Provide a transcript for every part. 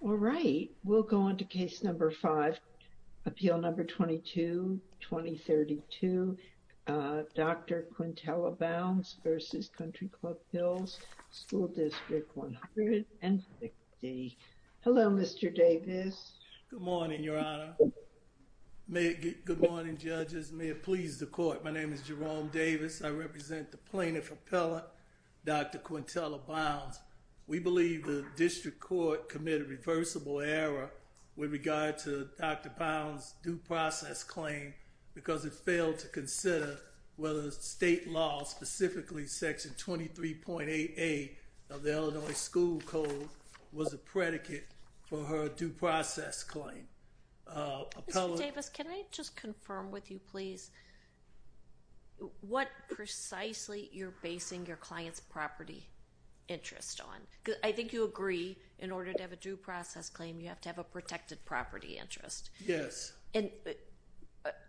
All right, we'll go on to case number five, appeal number 22-2032, Dr. Quintella Bounds v. Country Club Hills School District 160. Hello, Mr. Davis. Good morning, Your Honor. May it get good morning, judges. May it please the court. My name is Jerome Davis. I represent the plaintiff, Appellant Dr. Quintella Bounds. We believe the district court committed reversible error with regard to Dr. Bounds' due process claim because it failed to consider whether state law, specifically Section 23.88 of the Illinois School Code, was a predicate for her due process claim. Mr. Davis, can I just confirm with you, please, what precisely you're basing your client's property interest on? Because I think you agree, in order to have a due process claim, you have to have a protected property interest. Yes.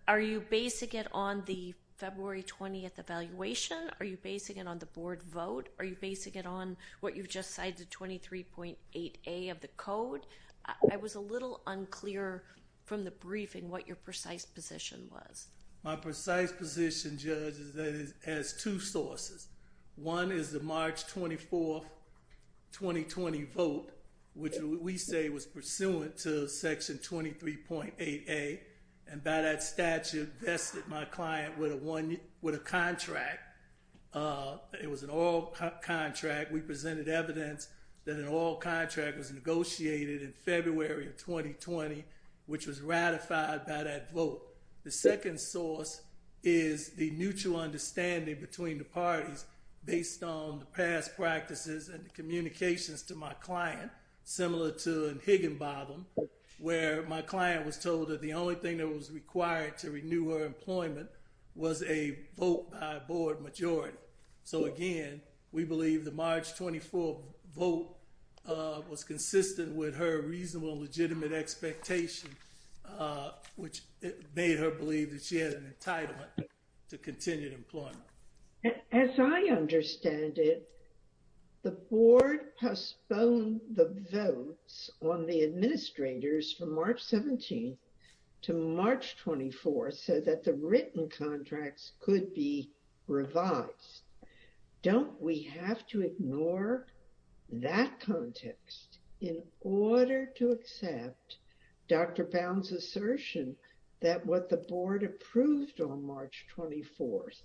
Are you basing it on the February 20th evaluation? Are you basing it on the board vote? Are you basing it on what you've just cited, 23.88 of the code? I was a little unclear from the briefing what your precise position was. My precise position, judge, is that it has two sources. One is the March 24, 2020 vote, which we say was pursuant to Section 23.88, and by that statute vested my client with a contract. It was an oil contract. We presented evidence that an oil contract was negotiated in February of 2020, which was ratified by that vote. The second source is the mutual understanding between the parties based on the past practices and the communications to my client, similar to in Higginbotham, where my client was told that the only thing that was required to renew her employment was a vote by a board majority. So, again, we believe the March 24 vote was consistent with her reasonable, legitimate expectation, which made her believe that she had an entitlement to continued employment. As I understand it, the board postponed the votes on the administrators from March 17th to March 24th so that the written contracts could be revised. Don't we have to ignore that context in order to accept Dr. Bowne's assertion that what the board approved on March 24th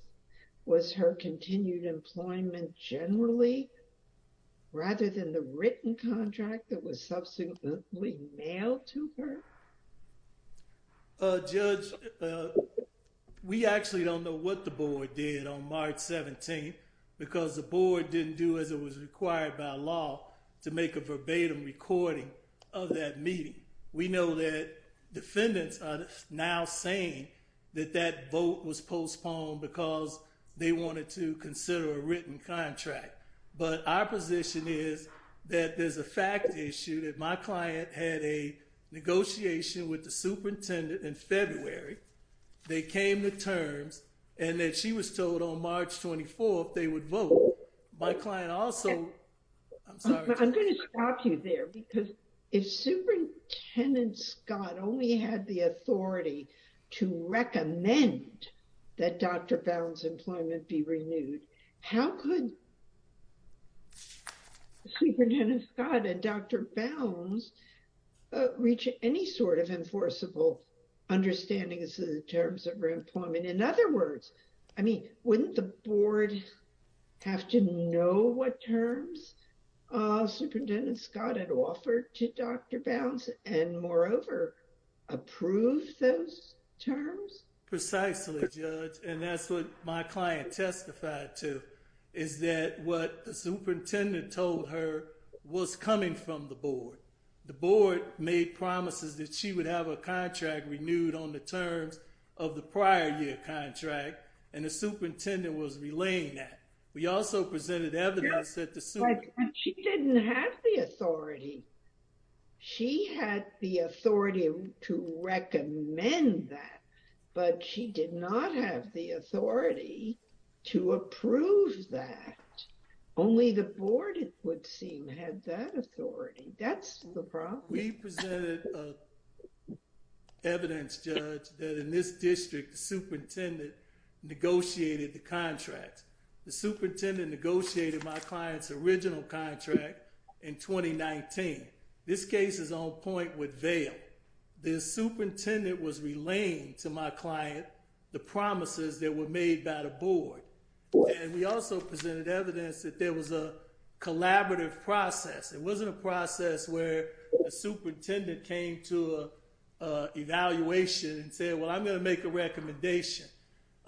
was her continued employment generally, rather than the written contract that was subsequently mailed to her? Judge, we actually don't know what the board did on March 17th because the board didn't do as it was required by law to make a verbatim recording of that meeting. We know that defendants are now saying that that vote was postponed because they wanted to consider a written contract, but our position is that there's a fact issue that my client had a negotiation with the superintendent in February. They came to terms and that she was told on March 24th they would vote. My client also... I'm sorry. I'm going to stop you there because if Superintendent Scott only had the authority to recommend that Dr. Bowne's employment be renewed, how could Superintendent Scott and Dr. Bowne reach any sort of enforceable understanding as to the terms of her employment? In other words, wouldn't the board have to know what terms Superintendent Scott had offered to Dr. Bowne and moreover, approve those terms? Precisely, Judge, and that's what my client testified to is that what the superintendent told her was coming from the board. The board made promises that she would have a contract renewed on the terms of the prior year contract and the superintendent was relaying that. We also presented evidence that the superintendent... She didn't have the authority. She had the authority to recommend that, but she did not have the authority to approve that. Only the board, it would seem, had that authority. That's the problem. We presented evidence, Judge, that in this district, the superintendent negotiated the client's original contract in 2019. This case is on point with Vail. The superintendent was relaying to my client the promises that were made by the board. We also presented evidence that there was a collaborative process. It wasn't a process where a superintendent came to an evaluation and said, well, I'm going to make a recommendation.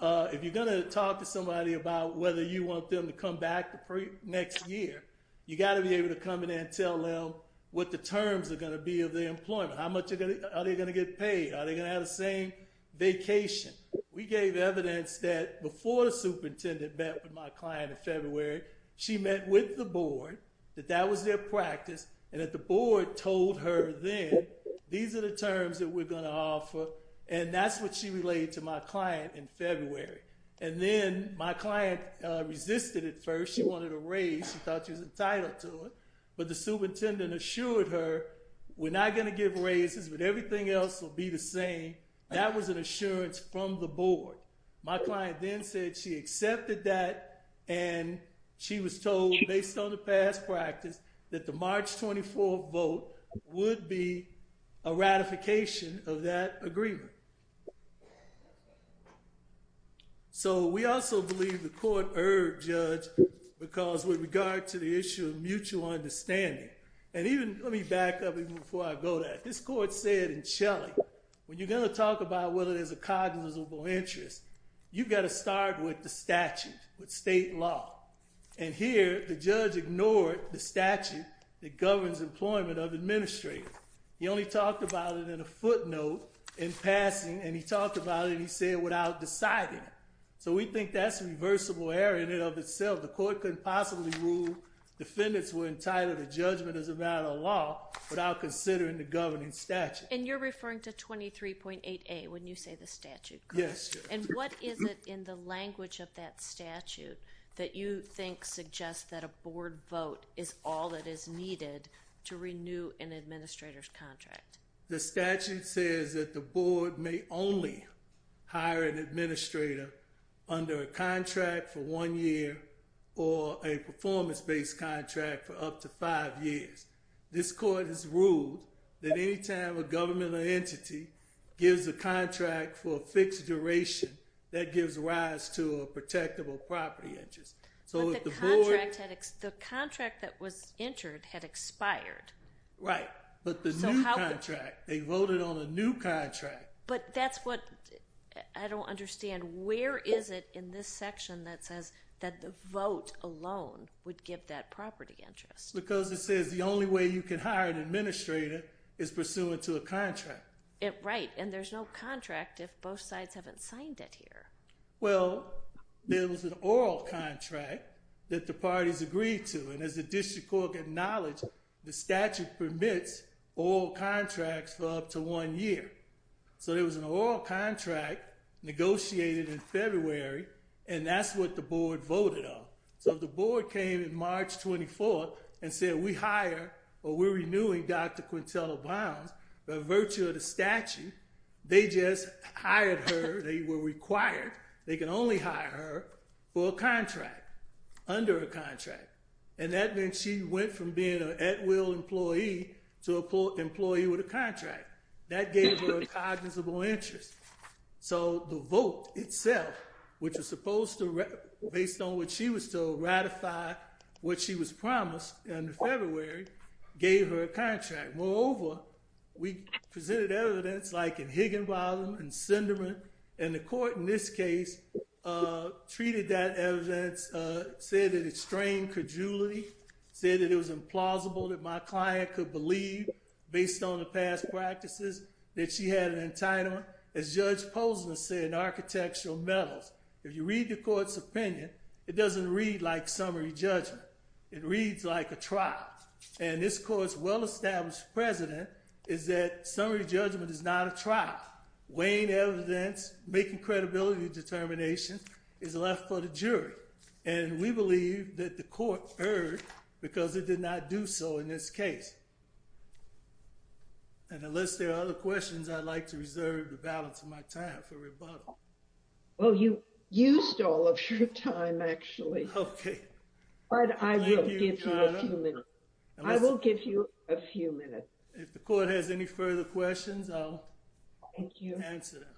If you're going to talk to somebody about whether you want them to come back the next year, you got to be able to come in and tell them what the terms are going to be of their employment. How much are they going to get paid? Are they going to have the same vacation? We gave evidence that before the superintendent met with my client in February, she met with the board, that that was their practice, and that the board told her then, these are the terms that we're going to offer. And that's what she relayed to my client in February. And then my client resisted at first. She wanted a raise. She thought she was entitled to it. But the superintendent assured her, we're not going to give raises, but everything else will be the same. That was an assurance from the board. My client then said she accepted that, and she was told, based on the past practice, that the March 24 vote would be a ratification of that agreement. So we also believe the court erred, Judge, because with regard to the issue of mutual understanding. And even, let me back up even before I go there. This court said in Shelley, when you're going to talk about whether there's a cognizable interest, you've got to start with the statute, with state law. And here, the judge ignored the statute that governs employment of administrators. He only talked about it in a footnote in passing, and he talked about it, and he said, without deciding it. So we think that's a reversible error in and of itself. The court couldn't possibly rule defendants were entitled to judgment as a matter of law without considering the governing statute. And you're referring to 23.8A when you say the statute, correct? Yes. And what is it in the language of that statute that you think suggests that a board vote is all that is needed to renew an administrator's contract? The statute says that the board may only hire an administrator under a contract for one year or a performance-based contract for up to five years. This court has ruled that any time a entity gives a contract for a fixed duration, that gives rise to a protectable property interest. But the contract that was entered had expired. Right. But the new contract, they voted on a new contract. But that's what, I don't understand, where is it in this section that says that the vote alone would give that property interest? Because it says the only way you can hire an administrator is pursuant to a contract. Right. And there's no contract if both sides haven't signed it here. Well, there was an oral contract that the parties agreed to. And as the district court acknowledged, the statute permits oral contracts for up to one year. So there was an oral contract negotiated in February, and that's what the board voted on. So if the board came in March 24th, and said, we hire, or we're renewing Dr. Quintella Browns by virtue of the statute, they just hired her. They were required. They can only hire her for a contract, under a contract. And that meant she went from being an at-will employee to an employee with a contract. That gave her a cognizable interest. So the vote itself, which was supposed to, based on what she was told, ratify what she was promised in February, gave her a contract. Moreover, we presented evidence, like in Higginbotham and Sinderman. And the court, in this case, treated that evidence, said that it strained credulity, said that it was implausible that my client could believe, based on the past practices, that she had an entitlement. As you read the court's opinion, it doesn't read like summary judgment. It reads like a trial. And this court's well-established precedent is that summary judgment is not a trial. Weighing evidence, making credibility determinations is left for the jury. And we believe that the court erred, because it did not do so in this case. And unless there are other questions, I'd like to all of your time, actually. OK. But I will give you a few minutes. I will give you a few minutes. If the court has any further questions, I'll answer them.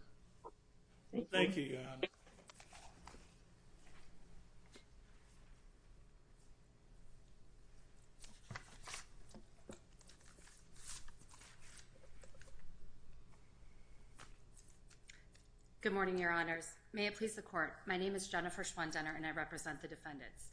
Thank you. Thank you, Your Honor. Thank you. Good morning, Your Honors. May it please the court, my name is Jennifer Schwandt-Denner, and I represent the defendants.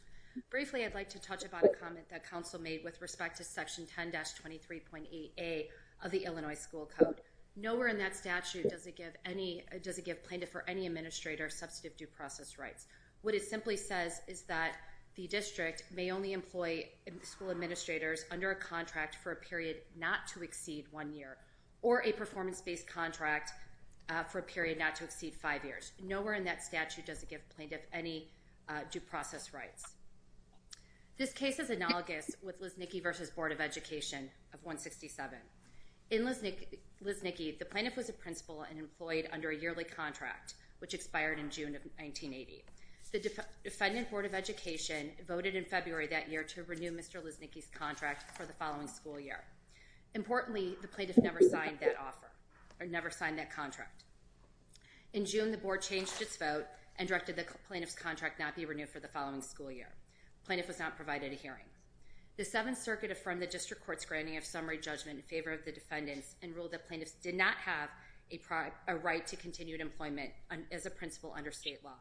Briefly, I'd like to touch upon a comment that counsel made with respect to Section 10-23.8a of the Illinois School Code. Nowhere in that statute does it give any, administrator, substantive due process rights. What it simply says is that the district may only employ school administrators under a contract for a period not to exceed one year, or a performance based contract for a period not to exceed five years. Nowhere in that statute does it give plaintiff any due process rights. This case is analogous with Lysnicki v. Board of Education of 167. In Lysnicki, the plaintiff was a principal and employed under a yearly contract, which expired in June of 1980. The Defendant Board of Education voted in February that year to renew Mr. Lysnicki's contract for the following school year. Importantly, the plaintiff never signed that offer, or never signed that contract. In June, the board changed its vote and directed the plaintiff's contract not be renewed for the following school year. The plaintiff was not court's granting of summary judgment in favor of the defendants, and ruled that plaintiffs did not have a right to continued employment as a principal under state law.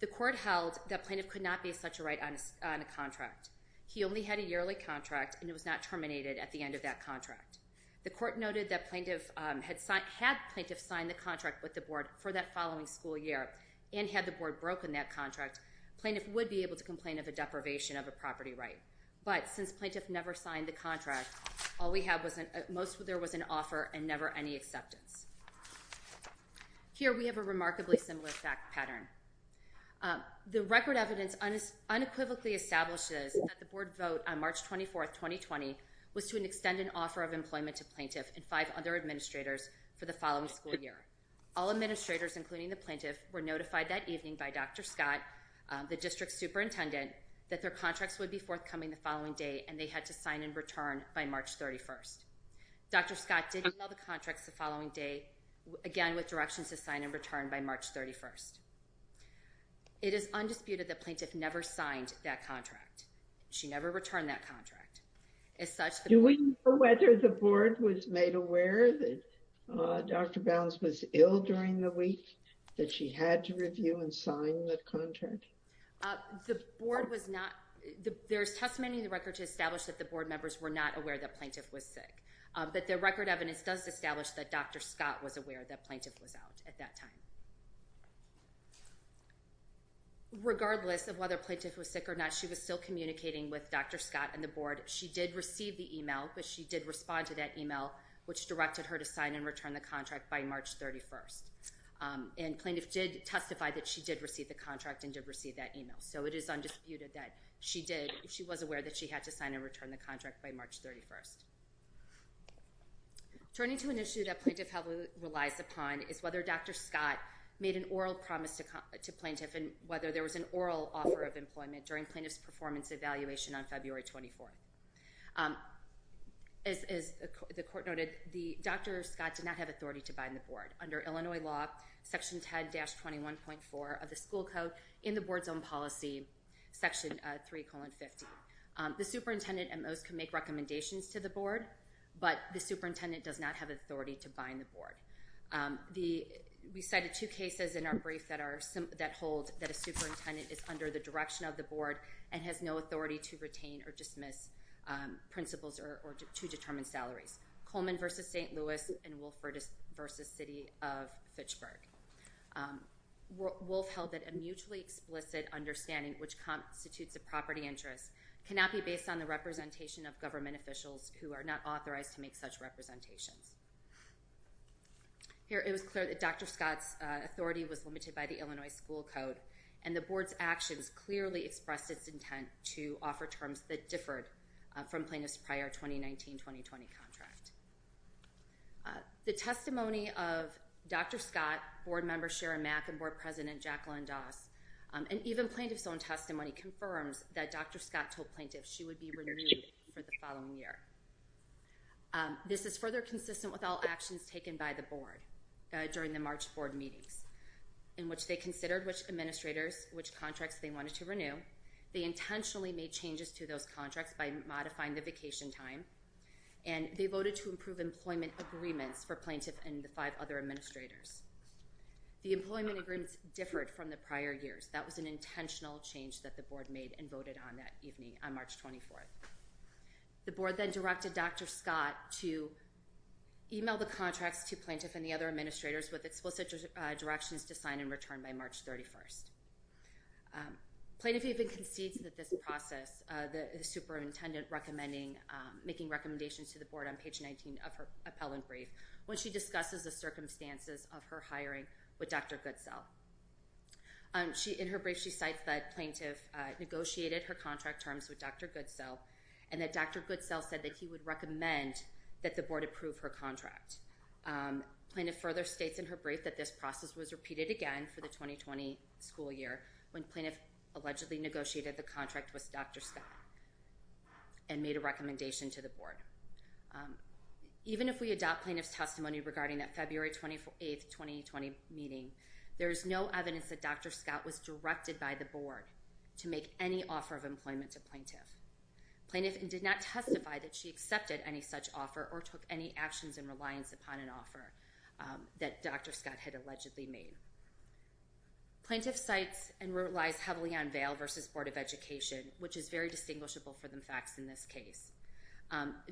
The court held that plaintiff could not be such a right on a contract. He only had a yearly contract, and it was not terminated at the end of that contract. The court noted that had plaintiff signed the contract with the board for that following school year, and had the board broken that contract, plaintiff would be able to All we have was an offer and never any acceptance. Here we have a remarkably similar fact pattern. The record evidence unequivocally establishes that the board vote on March 24, 2020, was to extend an offer of employment to plaintiff and five other administrators for the following school year. All administrators, including the plaintiff, were notified that evening by Dr. Scott, the district superintendent, that their contracts would be forthcoming the following day, and they had to sign and return by March 31st. Dr. Scott did email the contracts the following day, again with directions to sign and return by March 31st. It is undisputed that plaintiff never signed that contract. She never returned that contract. Do we know whether the board was made aware that Dr. Bounds was ill during the week, that she had to review and sign the contract? The board was not, there's testimony in the record to establish that the board members were not aware that plaintiff was sick, but the record evidence does establish that Dr. Scott was aware that plaintiff was out at that time. Regardless of whether plaintiff was sick or not, she was still communicating with Dr. Scott and the board. She did receive the email, but she did respond to that email which directed her to sign and return the contract by March 31st. And plaintiff did testify that she did receive the contract and did receive that email. So it is undisputed that she was aware that she had to sign and return the contract by March 31st. Turning to an issue that plaintiff relies upon is whether Dr. Scott made an oral promise to plaintiff and whether there was an oral offer of employment during plaintiff's performance evaluation on Dr. Scott did not have authority to bind the board under Illinois law section 10-21.4 of the school code in the board's own policy section 3 colon 50. The superintendent and most can make recommendations to the board, but the superintendent does not have authority to bind the board. We cited two cases in our brief that hold that a superintendent is under the direction of the board and has no salaries. Coleman versus St. Louis and Wolfe versus city of Fitchburg. Wolfe held that a mutually explicit understanding which constitutes a property interest cannot be based on the representation of government officials who are not authorized to make such representations. Here it was clear that Dr. Scott's authority was limited by the Illinois school code and the board's actions clearly expressed its intent to offer terms that differed from plaintiff's prior 2019-2020 contract. The testimony of Dr. Scott, board member Sharon Mack, and board president Jacqueline Doss and even plaintiff's own testimony confirms that Dr. Scott told plaintiffs she would be renewed for the following year. This is further consistent with all actions taken by the board during the March board meetings in which they considered which administrators, which contracts they wanted to renew. They intentionally made changes to those to find the vacation time and they voted to improve employment agreements for plaintiff and the five other administrators. The employment agreements differed from the prior years. That was an intentional change that the board made and voted on that evening on March 24th. The board then directed Dr. Scott to email the contracts to plaintiff and the other administrators with explicit directions to sign and return by March 31st. Plaintiff even concedes that this process the superintendent recommending making recommendations to the board on page 19 of her appellant brief when she discusses the circumstances of her hiring with Dr. Goodsell. In her brief she cites that plaintiff negotiated her contract terms with Dr. Goodsell and that Dr. Goodsell said that he would recommend that the board approve her contract. Plaintiff further states in her brief that this process was repeated again for the 2020 school year when plaintiff allegedly negotiated the contract with Dr. Scott and made a recommendation to the board. Even if we adopt plaintiff's testimony regarding that February 28th, 2020 meeting, there is no evidence that Dr. Scott was directed by the board to make any offer of employment to plaintiff. Plaintiff did not testify that she accepted any such offer or took any actions in reliance upon an offer that Dr. Scott had allegedly made. Plaintiff cites and relies heavily on Vail versus Board of Education, which is very distinguishable for the facts in this case.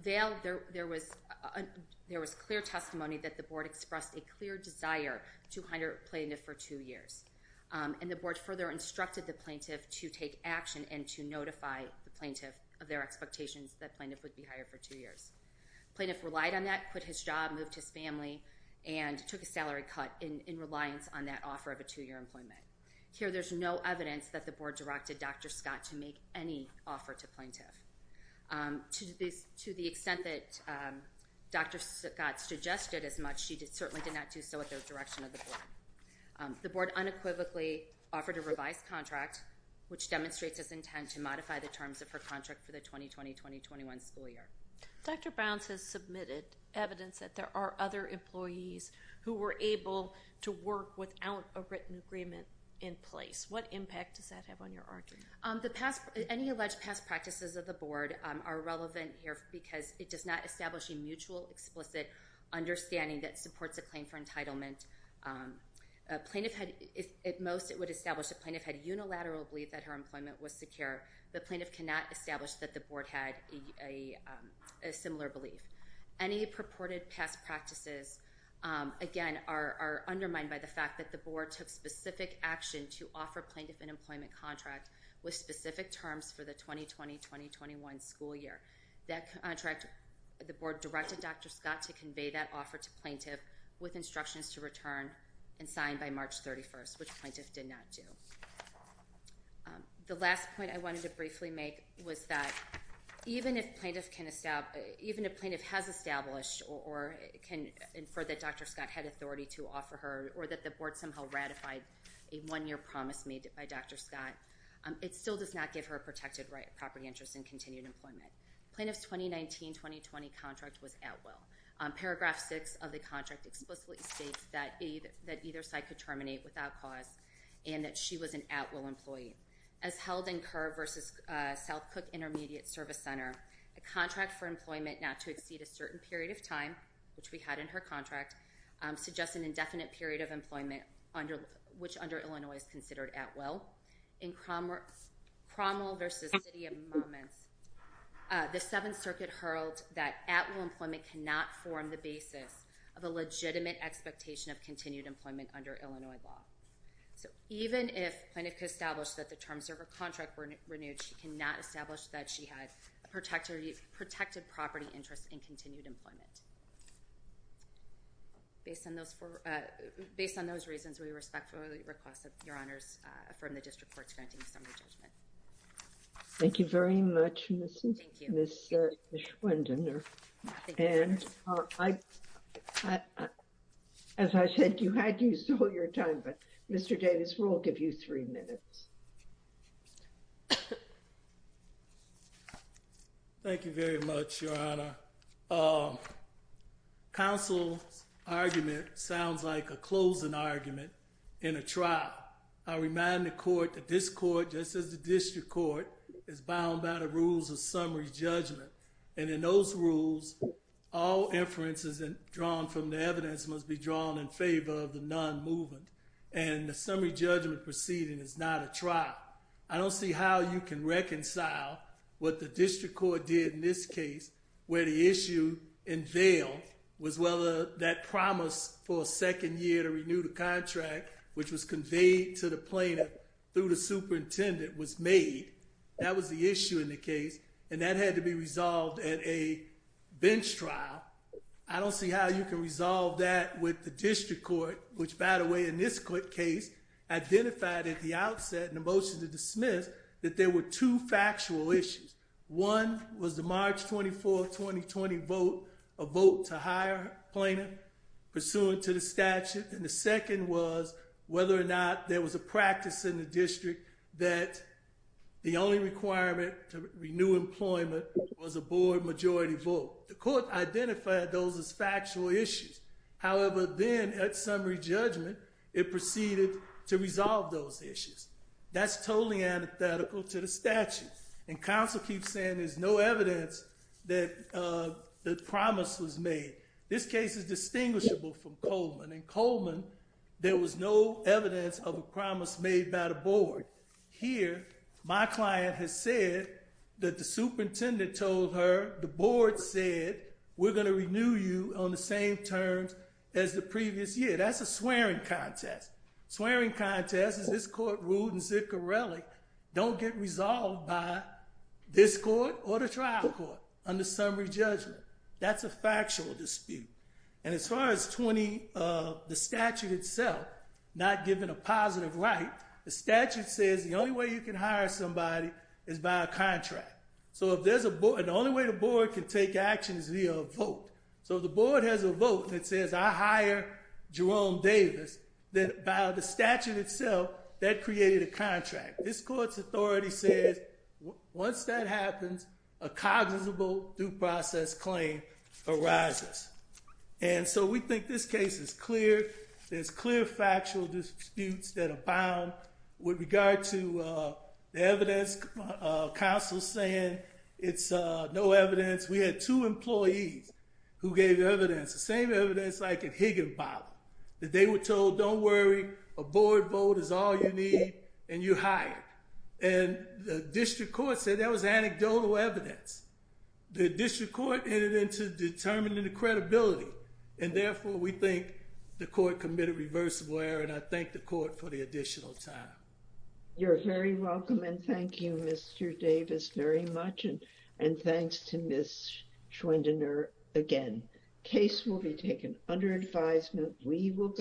Vail, there was clear testimony that the board expressed a clear desire to hire plaintiff for two years and the board further instructed the plaintiff to take action and to notify the plaintiff of their expectations that plaintiff would be hired for two years. Plaintiff relied on that, quit his job, moved his family, and took a salary cut in reliance on that offer of a two-year employment. Here there's no evidence that the board directed Dr. Scott to make any offer to plaintiff. To the extent that Dr. Scott suggested as much, she certainly did not do so at the direction of the board. The board unequivocally offered a revised contract, which demonstrates its intent to modify the terms of her contract for the 2020-2021 school year. Dr. Browns has submitted evidence that there are other employees who were able to work without a written agreement in place. What impact does that have on your argument? The past, any alleged past practices of the board are relevant here because it does not establish a mutual explicit understanding that supports a claim for entitlement. Plaintiff had, at most it would establish that plaintiff had unilateral belief that her employment was secure. The plaintiff cannot establish that the similar belief. Any purported past practices again are undermined by the fact that the board took specific action to offer plaintiff an employment contract with specific terms for the 2020-2021 school year. That contract, the board directed Dr. Scott to convey that offer to plaintiff with instructions to return and sign by March 31st, which plaintiff did not do. The last point I wanted to briefly make was that even if plaintiff can establish, even if plaintiff has established or can infer that Dr. Scott had authority to offer her or that the board somehow ratified a one-year promise made by Dr. Scott, it still does not give her a protected right of property interest and continued employment. Plaintiff's 2019-2020 contract was at will. Paragraph six of the contract explicitly states that either side could terminate without cause and that she was an at will employee. As held in Kerr versus South Cook Intermediate Service Center, a contract for employment not to exceed a certain period of time, which we had in her contract, suggests an indefinite period of employment, which under Illinois is considered at will. In Cromwell versus City of Moments, the Seventh Circuit hurled that at will employment cannot form the basis of a legitimate expectation of continued employment under Illinois law. So even if plaintiff could establish that the terms of her contract were renewed, she cannot establish that she had protected property interest and continued employment. Based on those reasons, we respectfully request that Your Honors affirm the district court's granting summary judgment. Thank you very much, Ms. Schwindener. And as I said, you had used all your time, but Mr. Davis, we'll give you three minutes. Thank you very much, Your Honor. Council's argument sounds like a closing argument in a trial. I remind the court that this court, just as the district court, is bound by the rules of summary judgment. And in those rules, all inferences drawn from the evidence must be drawn in favor of the non-movement. And the summary judgment proceeding is not a trial. I don't see how you can reconcile what the district court did in this case, where the issue unveiled was whether that promise for a second year to renew the contract, which was conveyed to the plaintiff through the court, had to be resolved at a bench trial. I don't see how you can resolve that with the district court, which, by the way, in this court case, identified at the outset in the motion to dismiss that there were two factual issues. One was the March 24, 2020 vote, a vote to hire plaintiff pursuant to the statute. And the second was whether or not there was a practice in the district that the only requirement to renew employment was a board majority vote. The court identified those as factual issues. However, then at summary judgment, it proceeded to resolve those issues. That's totally antithetical to the statute. And counsel keeps saying there's no evidence that the promise was made. This case is distinguishable from Coleman. In Coleman, there was no evidence of my client has said that the superintendent told her, the board said, we're going to renew you on the same terms as the previous year. That's a swearing contest. Swearing contest is this court ruled in Ziccarelli don't get resolved by this court or the trial court under summary judgment. That's a factual dispute. And as far as the statute itself, not given a positive right, the statute says the only way you can hire somebody is by a contract. And the only way the board can take action is via a vote. So if the board has a vote that says I hire Jerome Davis, then by the statute itself, that created a contract. This court's authority says once that happens, a cognizable due process claim arises. And so we think this case is clear. There's clear factual disputes that abound. With regard to the evidence, counsel's saying it's no evidence. We had two employees who gave evidence, the same evidence like at Higginbotham, that they were told, don't worry. A board vote is all you need, and you're hired. And the district court said that was anecdotal evidence. The district court entered into determining the reversible error, and I thank the court for the additional time. You're very welcome, and thank you, Mr. Davis, very much. And thanks to Ms. Schwindener again.